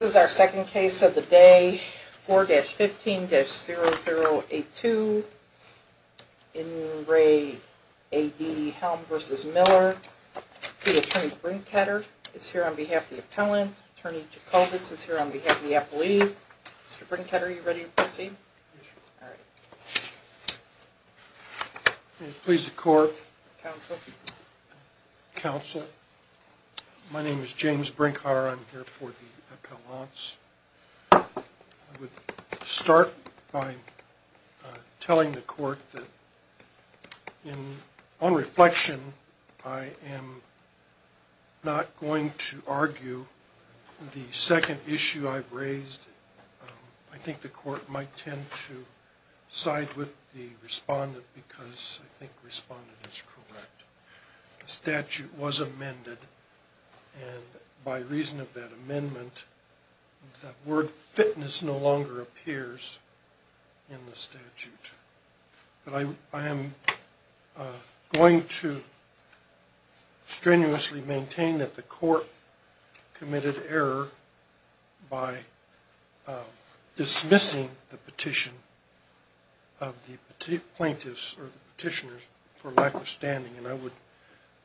This is our second case of the day. 4-15-0082. In re. A.D. Helm v. Miller. See Attorney Brinkheder is here on behalf of the appellant. Attorney Jacobus is here on behalf of the appellee. Mr. Brinkheder, are you ready to proceed? May it please the Court. Counsel. Counsel. My name is James Brinkheder. I'm here for the appellants. I would start by telling the Court that on reflection I am not going to argue the second issue I've raised. I think the Court might tend to side with the respondent because I think the respondent is correct. The statute was amended and by reason of that amendment the word fitness no longer appears in the statute. I am going to strenuously maintain that the Court committed error by dismissing the petition of the plaintiffs or petitioners for lack of standing. I would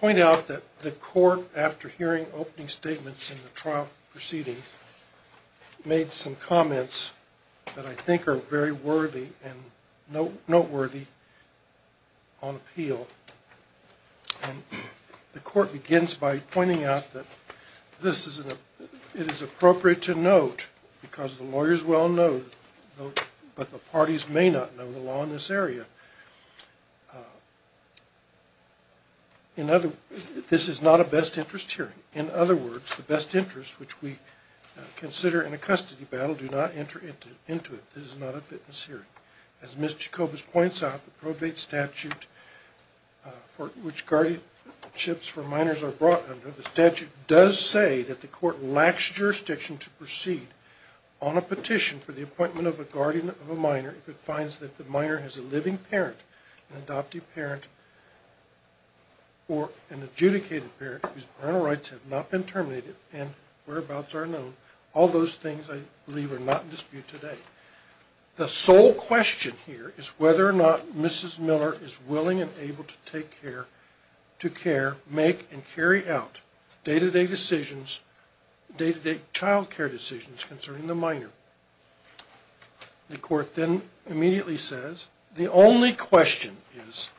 point out that the Court after hearing opening statements in the trial proceeding made some comments that I think are very worthy and noteworthy on appeal. The Court begins by pointing out that it is appropriate to note because the lawyers well know but the parties may not know the law in this area. This is not a best interest hearing. In other words, the best interest which we consider in a custody battle do not enter into it. This is not a fitness hearing. As Ms. Jacobus points out, the probate statute which guardianships for minors are brought under, the statute does say that the Court lacks jurisdiction to proceed on a petition for the appointment of a guardian of a minor if it finds that the minor has a living parent, an adoptive parent or an adjudicated parent whose parental rights have not been terminated and whereabouts are unknown. All those things I believe are not in dispute today. The sole question here is whether or not Mrs. Miller is willing and able to take care, to care, make and carry out day-to-day decisions, day-to-day child care decisions concerning the minor. The Court then immediately says the only question is,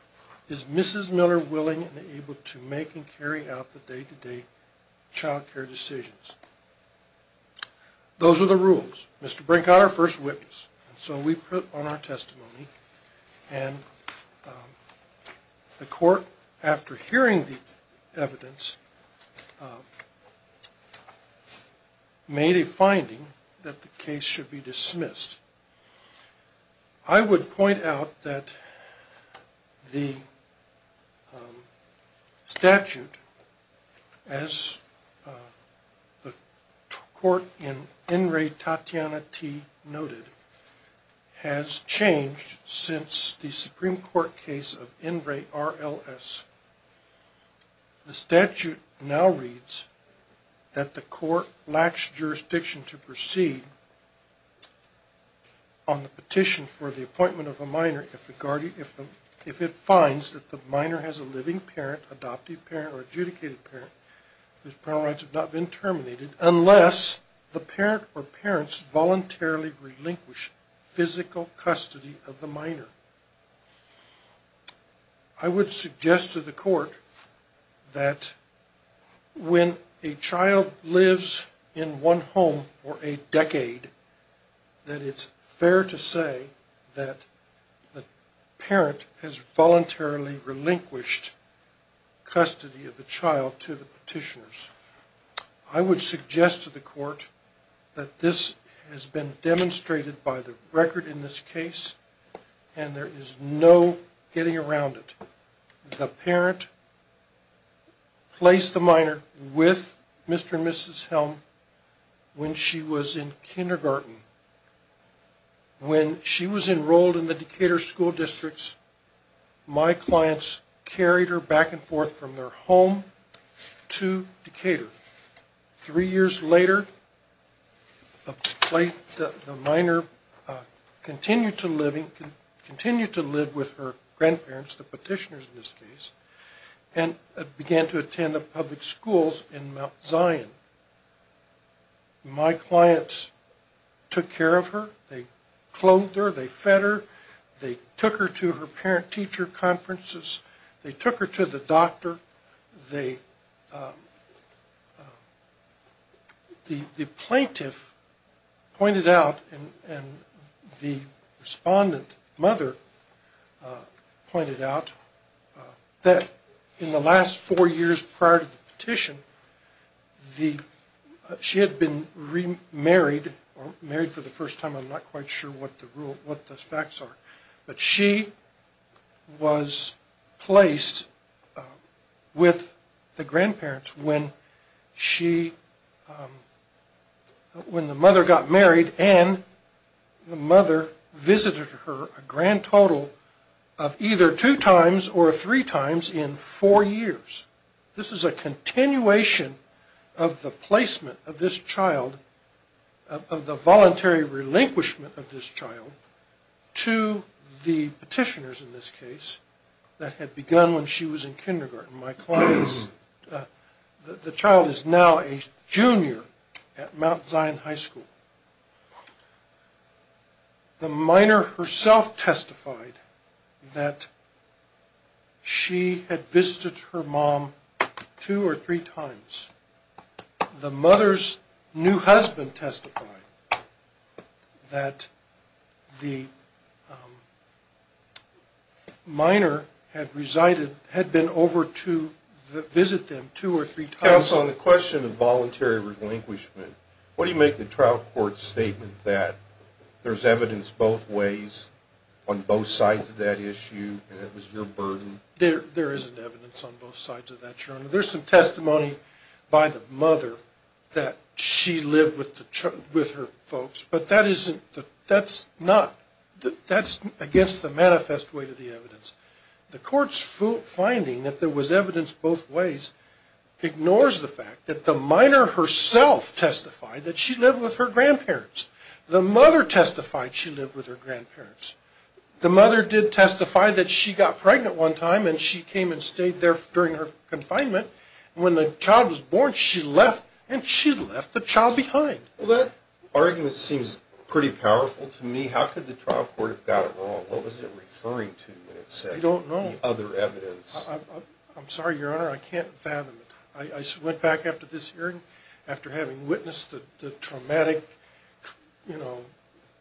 is Mrs. Miller willing and able to make and carry out the day-to-day child care decisions. Those are the rules. Mr. Brinkhauer, first witness. So we put on our testimony and the Court, after hearing the evidence, made a finding that the case should be dismissed. I would point out that the statute, as the Court in In Re Tatiana T noted, has changed since the Supreme Court case of In Re RLS. The statute now reads that the Court lacks jurisdiction to proceed on the petition for the appointment of a minor if the guardian, if it finds that the minor has a living parent, adoptive parent or adjudicated parent whose parental rights have not been terminated unless the parent or parents voluntarily relinquish physical custody of the minor. I would suggest to the Court that when a child lives in one home for a decade, that it's fair to say that the parent has voluntarily relinquished custody of the child to the petitioners. I would suggest to the Court that this has been demonstrated by the record in this case and there is no getting around it. The parent placed the minor with Mr. and Mrs. Helm when she was in kindergarten. When she was enrolled in the Decatur school districts, my clients carried her back and forth from their home to Decatur. Three years later, the minor continued to live with her grandparents, the petitioners in this case, and began to attend the public schools in Mount Zion. My clients took care of her, they clothed her, they fed her, they took her to her parent-teacher conferences, they took her to the doctor. The plaintiff pointed out, and the respondent mother pointed out, that in the last four years prior to the petition, she had been remarried, or married for the first time, I'm not quite sure what the facts are. But she was placed with the grandparents when the mother got married and the mother visited her a grand total of either two times or three times in four years. This is a continuation of the placement of this child, of the voluntary relinquishment of this child, to the petitioners in this case that had begun when she was in kindergarten. My clients, the child is now a junior at Mount Zion High School. The minor herself testified that she had visited her mom two or three times. The mother's new husband testified that the minor had been over to visit them two or three times. Counsel, on the question of voluntary relinquishment, what do you make the trial court's statement that there's evidence both ways, on both sides of that issue, and it was your burden? There isn't evidence on both sides of that, Your Honor. There's some testimony by the mother that she lived with her folks, but that's against the manifest way to the evidence. The court's finding that there was evidence both ways ignores the fact that the minor herself testified that she lived with her grandparents. The mother testified she lived with her grandparents. The mother did testify that she got pregnant one time and she came and stayed there during her confinement. When the child was born, she left, and she left the child behind. Well, that argument seems pretty powerful to me. How could the trial court have got it wrong? What was it referring to when it said the other evidence? I don't know. I'm sorry, Your Honor. I can't fathom it. I went back after this hearing, after having witnessed the traumatic, you know,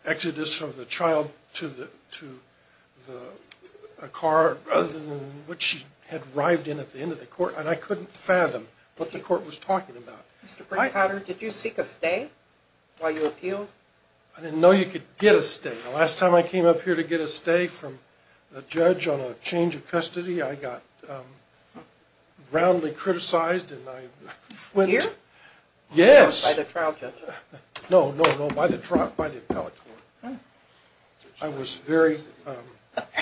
exodus of the child to a car, other than what she had arrived in at the end of the court, and I couldn't fathom what the court was talking about. Mr. Brinkhotter, did you seek a stay while you appealed? I didn't know you could get a stay. The last time I came up here to get a stay from a judge on a change of custody, I got roundly criticized and I went to... Here? Yes. By the trial judge? No, no, no, by the trial, by the appellate court. I was very...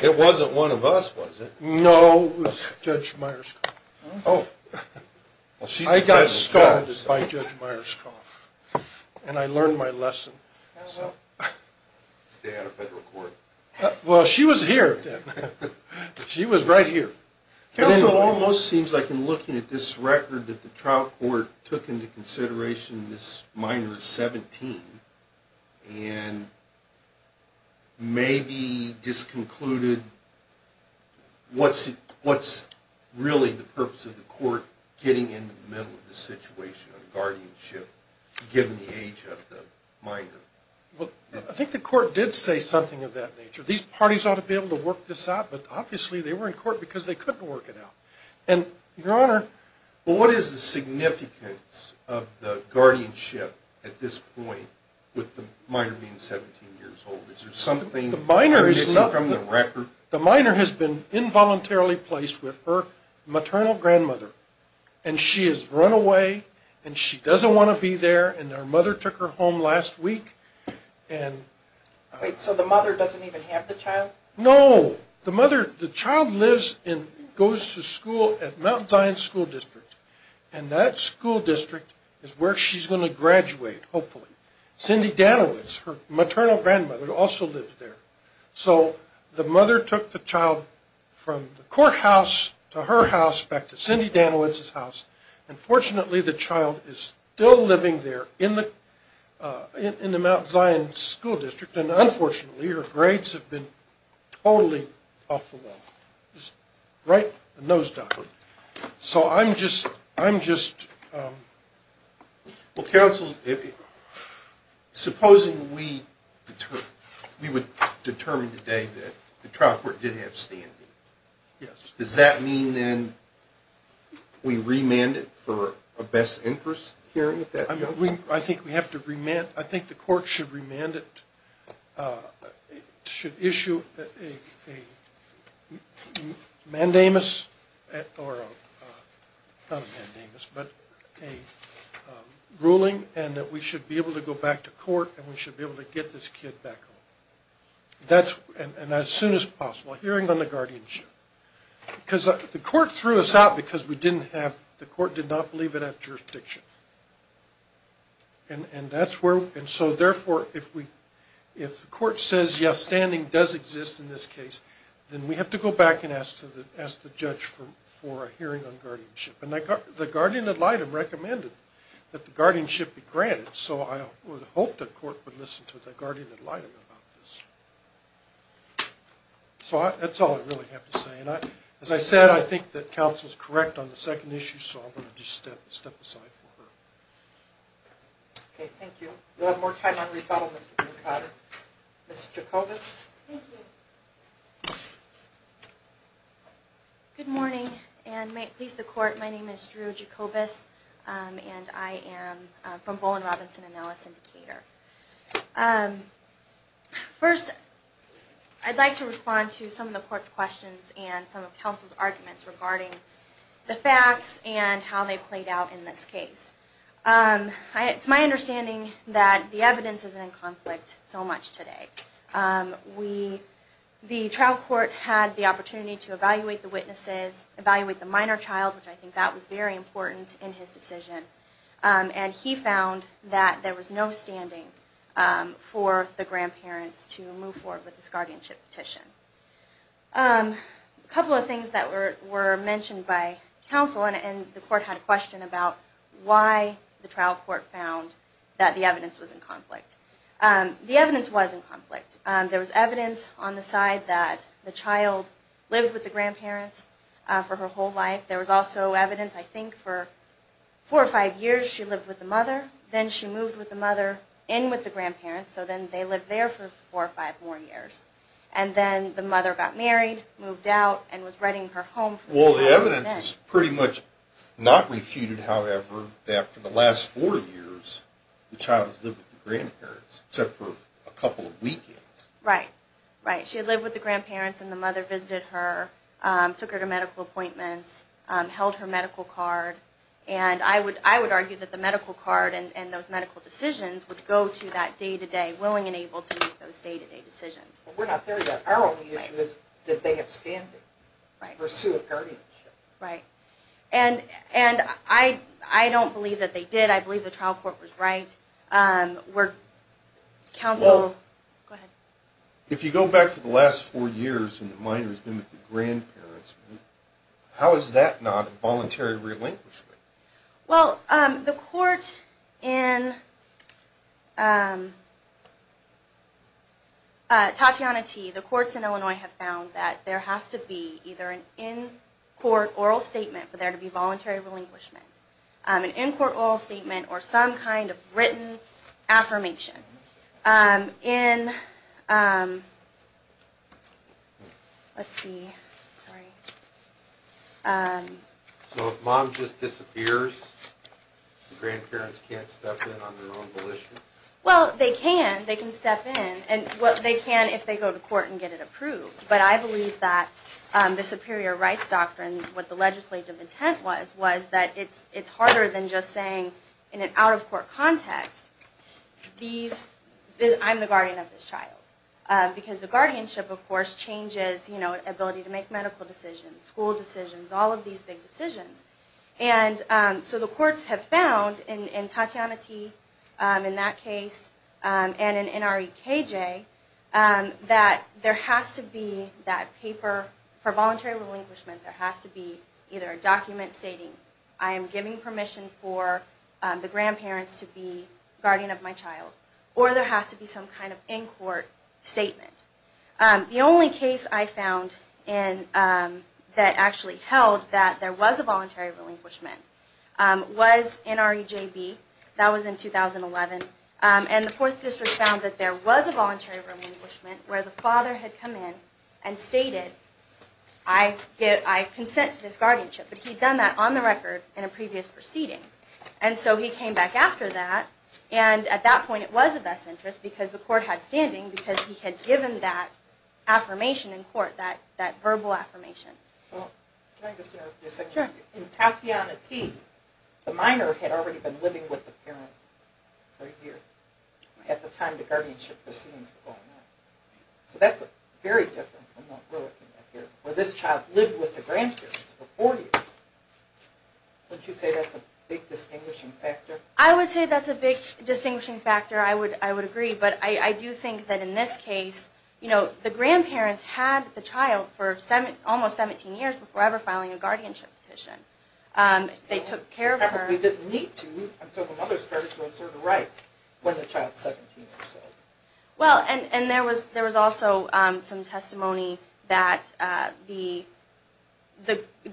It wasn't one of us, was it? No, it was Judge Myerscough. Oh. I got scoffed by Judge Myerscough, and I learned my lesson. Stay out of federal court. Well, she was here. She was right here. Counsel, it almost seems like in looking at this record that the trial court took into consideration this minor at 17, and maybe just concluded what's really the purpose of the court getting into the middle of the situation, guardianship, given the age of the minor. Well, I think the court did say something of that nature. These parties ought to be able to work this out, but obviously they were in court because they couldn't work it out. And, Your Honor... Well, what is the significance of the guardianship at this point with the minor being 17 years old? Is there something... The minor is nothing... ...from the record? The minor has been involuntarily placed with her maternal grandmother, and she has run away, and she doesn't want to be there, and her mother took her home last week, and... Wait, so the mother doesn't even have the child? No. The mother... The child lives and goes to school at Mount Zion School District, and that school district is where she's going to graduate, hopefully. Cindy Danowitz, her maternal grandmother, also lives there. So, the mother took the child from the courthouse to her house, back to Cindy Danowitz's house, and fortunately the child is still living there in the Mount Zion School District, and unfortunately her grades have been totally off the wall. Right? A nosedive. So, I'm just... Well, counsel, supposing we would determine today that the trial court did have standing. Yes. Does that mean, then, we remand it for a best interest hearing at that point? I think we have to remand... I think the court should remand it... should issue a mandamus, or a... not a mandamus, but a ruling, and that we should be able to go back to court, and we should be able to get this kid back home. That's... and as soon as possible. Hearing on the guardianship. Because the court threw us out because we didn't have... the court did not believe it had jurisdiction. And that's where... and so, therefore, if we... if the court says, yes, standing does exist in this case, then we have to go back and ask the judge for a hearing on guardianship. And the guardian ad litem recommended that the guardianship be granted, so I would hope the court would listen to the guardian ad litem about this. So, that's all I really have to say. And I... as I said, I think that counsel's correct on the second issue, so I'm going to just step aside for her. Okay, thank you. We'll have more time on rebuttal, Mr. Bancada. Ms. Jacobus? Thank you. Good morning, and may it please the court, my name is Drew Jacobus, and I am from Bowen, Robinson, and Ellis in Decatur. First, I'd like to respond to some of the court's questions and some of counsel's arguments regarding the facts and how they played out in this case. It's my understanding that the evidence isn't in conflict so much today. We... the trial court had the opportunity to evaluate the witnesses, evaluate the minor child, which I think that was very important in his decision. And he found that there was no standing for the grandparents to move forward with this guardianship petition. A couple of things that were mentioned by counsel, and the court had a question about why the trial court found that the evidence was in conflict. The evidence was in conflict. There was evidence on the side that the child lived with the grandparents for her whole life. There was also evidence, I think, for four or five years she lived with the mother, then she moved with the mother in with the grandparents, so then they lived there for four or five more years. And then the mother got married, moved out, and was renting her home for the rest of her life. Well, the evidence is pretty much not refuted, however, that for the last four years, the child has lived with the grandparents, except for a couple of weekends. Right, right. She had lived with the grandparents, and the mother visited her, took her to medical appointments, held her medical card. And I would argue that the medical card and those medical decisions would go to that day-to-day, willing and able to make those day-to-day decisions. But we're not there yet. Our only issue is did they have standing to pursue a guardianship? Right. And I don't believe that they did. I believe the trial court was right. Counsel, go ahead. If you go back to the last four years and the minor has been with the grandparents, how is that not a voluntary relinquishment? Well, the court in Tatiana T., the courts in Illinois, have found that there has to be either an in-court oral statement for there to be voluntary relinquishment, an in-court oral statement, or some kind of written affirmation. So if mom just disappears, the grandparents can't step in on their own volition? Well, they can. They can step in. They can if they go to court and get it approved. But I believe that the superior rights doctrine, what the legislative intent was, was that it's harder than just saying in an out-of-court context, I'm the guardian of this child. Because the guardianship, of course, changes ability to make medical decisions, school decisions, all of these big decisions. And so the courts have found in Tatiana T., in that case, and in NREKJ, that there has to be that paper for voluntary relinquishment. There has to be either a document stating, I am giving permission for the grandparents to be guardian of my child, or there has to be some kind of in-court statement. The only case I found that actually held that there was a voluntary relinquishment was NREJB. That was in 2011. And the 4th District found that there was a voluntary relinquishment where the father had come in and stated, I consent to this guardianship. But he'd done that on the record in a previous proceeding. And so he came back after that. And at that point, it was of best interest because the court had standing because he had given that affirmation in court, that verbal affirmation. Can I just interrupt for a second? In Tatiana T., the minor had already been living with the parent for a year at the time the guardianship proceedings were going on. So that's very different from what we're looking at here, where this child lived with the grandparents for four years. Wouldn't you say that's a big distinguishing factor? I would say that's a big distinguishing factor. I would agree. But I do think that in this case, you know, the grandparents had the child for almost 17 years before ever filing a guardianship petition. They took care of her. They didn't need to until the mother started to assert her rights when the child was 17 or so. Well, and there was also some testimony that the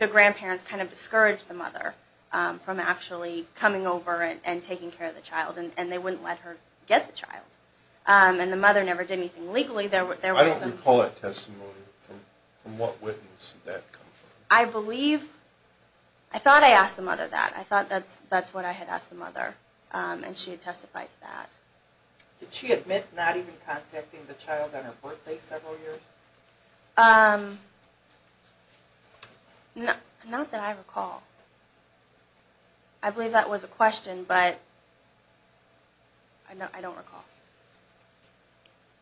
grandparents kind of discouraged the mother from actually coming over and taking care of the child. And they wouldn't let her get the child. And the mother never did anything legally. I don't recall that testimony. From what witness did that come from? I believe – I thought I asked the mother that. I thought that's what I had asked the mother, and she had testified to that. Did she admit not even contacting the child on her birthday several years? Not that I recall. I believe that was a question, but I don't recall.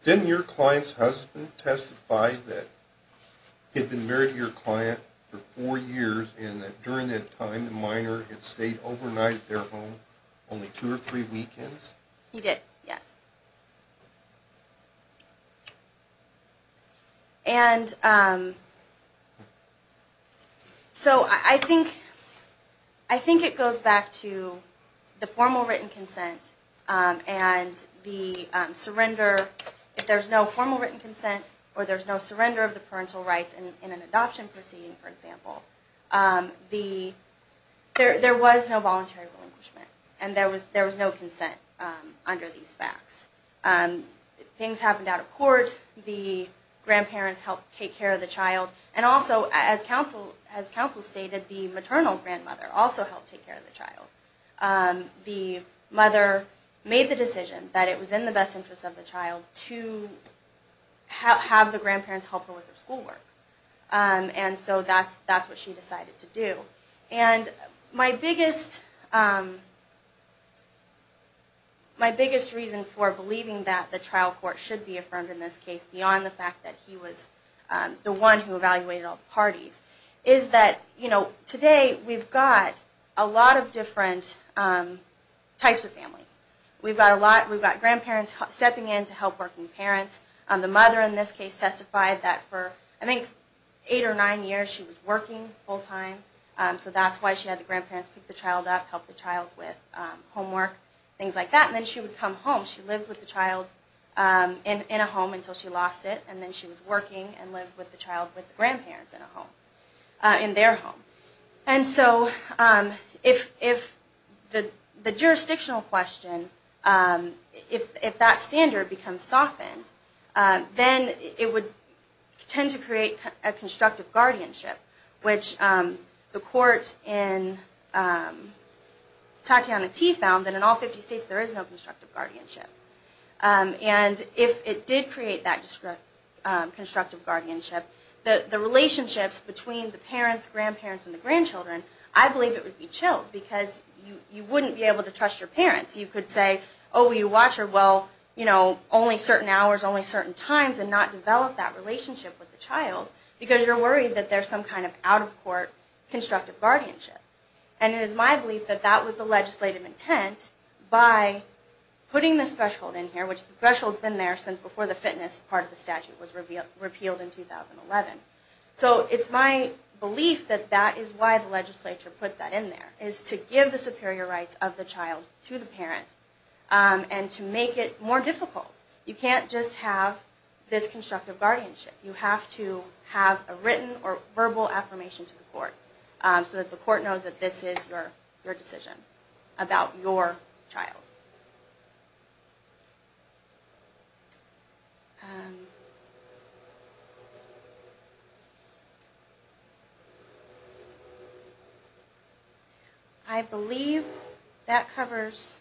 Didn't your client's husband testify that he had been married to your client for four years and that during that time the minor had stayed overnight at their home only two or three weekends? He did, yes. And so I think it goes back to the formal written consent and the surrender. If there's no formal written consent or there's no surrender of the parental rights in an adoption proceeding, for example, there was no voluntary relinquishment. And there was no consent under these facts. Things happened out of court. The grandparents helped take care of the child. And also, as counsel stated, the maternal grandmother also helped take care of the child. The mother made the decision that it was in the best interest of the child to have the grandparents help her with her schoolwork. And so that's what she decided to do. My biggest reason for believing that the trial court should be affirmed in this case beyond the fact that he was the one who evaluated all the parties is that today we've got a lot of different types of families. We've got grandparents stepping in to help working parents. The mother in this case testified that for, I think, eight or nine years she was working full time. So that's why she had the grandparents pick the child up, help the child with homework, things like that. And then she would come home. She lived with the child in a home until she lost it. And then she was working and lived with the child with the grandparents in their home. And so if the jurisdictional question, if that standard becomes softened, then it would tend to create a constructive guardianship, which the court in Tatiana T. found that in all 50 states there is no constructive guardianship. And if it did create that constructive guardianship, the relationships between the parents, grandparents, and the grandchildren, I believe it would be chilled because you wouldn't be able to trust your parents. You could say, oh, you watch her, well, only certain hours, only certain times, and not develop that relationship with the child because you're worried that there's some kind of out-of-court constructive guardianship. And it is my belief that that was the legislative intent by putting this threshold in here, which the threshold's been there since before the fitness part of the statute was repealed in 2011. So it's my belief that that is why the legislature put that in there, is to give the superior rights of the child to the parent and to make it more difficult. You can't just have this constructive guardianship. You have to have a written or verbal affirmation to the court so that the court knows that this is your decision about your child. I believe that covers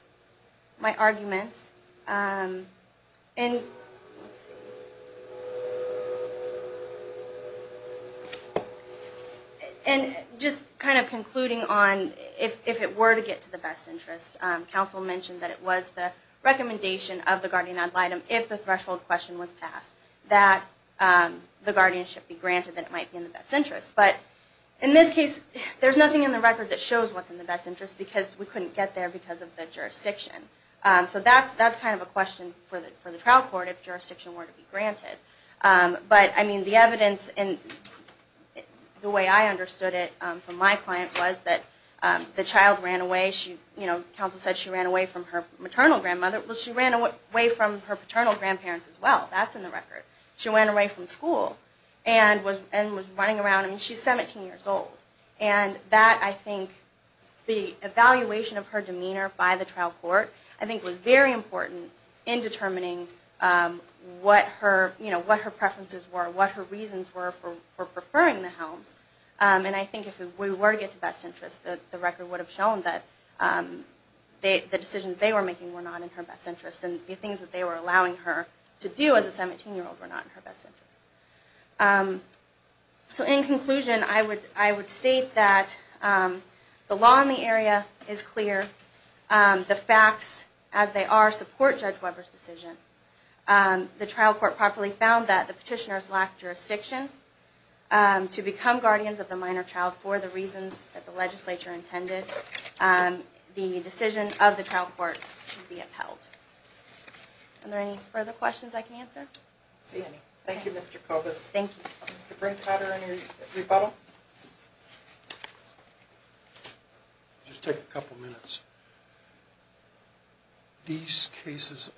my arguments. And just kind of concluding on, if it were to get to the best interest, counsel mentioned that it was the recommendation of the guardian ad litem, if the threshold question was passed, that the guardian should be granted that it might be in the best interest. But in this case, there's nothing in the record that shows what's in the best interest because we couldn't get there because of the jurisdiction. So that's my argument. That's kind of a question for the trial court if jurisdiction were to be granted. But the evidence, the way I understood it from my client, was that the child ran away. Counsel said she ran away from her maternal grandmother. Well, she ran away from her paternal grandparents as well. That's in the record. She ran away from school and was running around. I mean, she's 17 years old. And that, I think, the evaluation of her demeanor by the trial court, I think was very important in determining what her preferences were, what her reasons were for preferring the Helms. And I think if we were to get to best interest, the record would have shown that the decisions they were making were not in her best interest. And the things that they were allowing her to do as a 17-year-old were not in her best interest. So in conclusion, I would state that the law in the area is clear. The facts as they are support Judge Weber's decision. The trial court properly found that the petitioners lacked jurisdiction to become guardians of the minor child for the reasons that the legislature intended. The decision of the trial court should be upheld. Are there any further questions I can answer? Thank you, Mr. Kovas. Thank you. Mr. Brink, do you have any rebuttal? Just take a couple minutes. These cases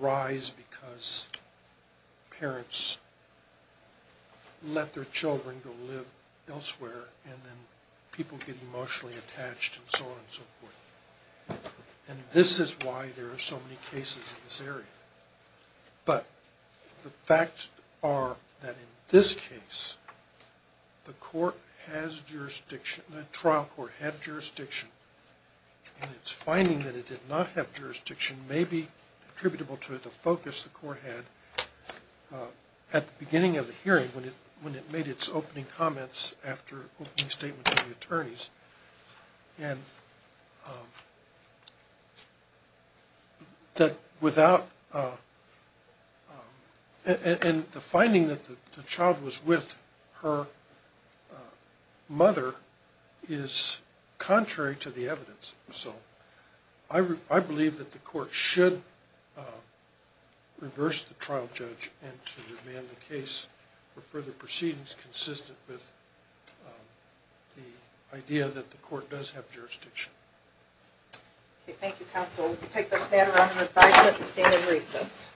arise because parents let their children go live elsewhere and then people get emotionally attached and so on and so forth. And this is why there are so many cases in this area. But the facts are that in this case, the court has jurisdiction, the trial court had jurisdiction, and it's finding that it did not have jurisdiction may be attributable to the focus the court had at the beginning of the hearing when it made its opening comments after opening statements to the attorneys. And the finding that the child was with her mother is contrary to the evidence. So I believe that the court should reverse the trial judge and to demand the case for further proceedings consistent with the idea that the court does have jurisdiction. Thank you, counsel. We will take this matter under review at the stand in recess.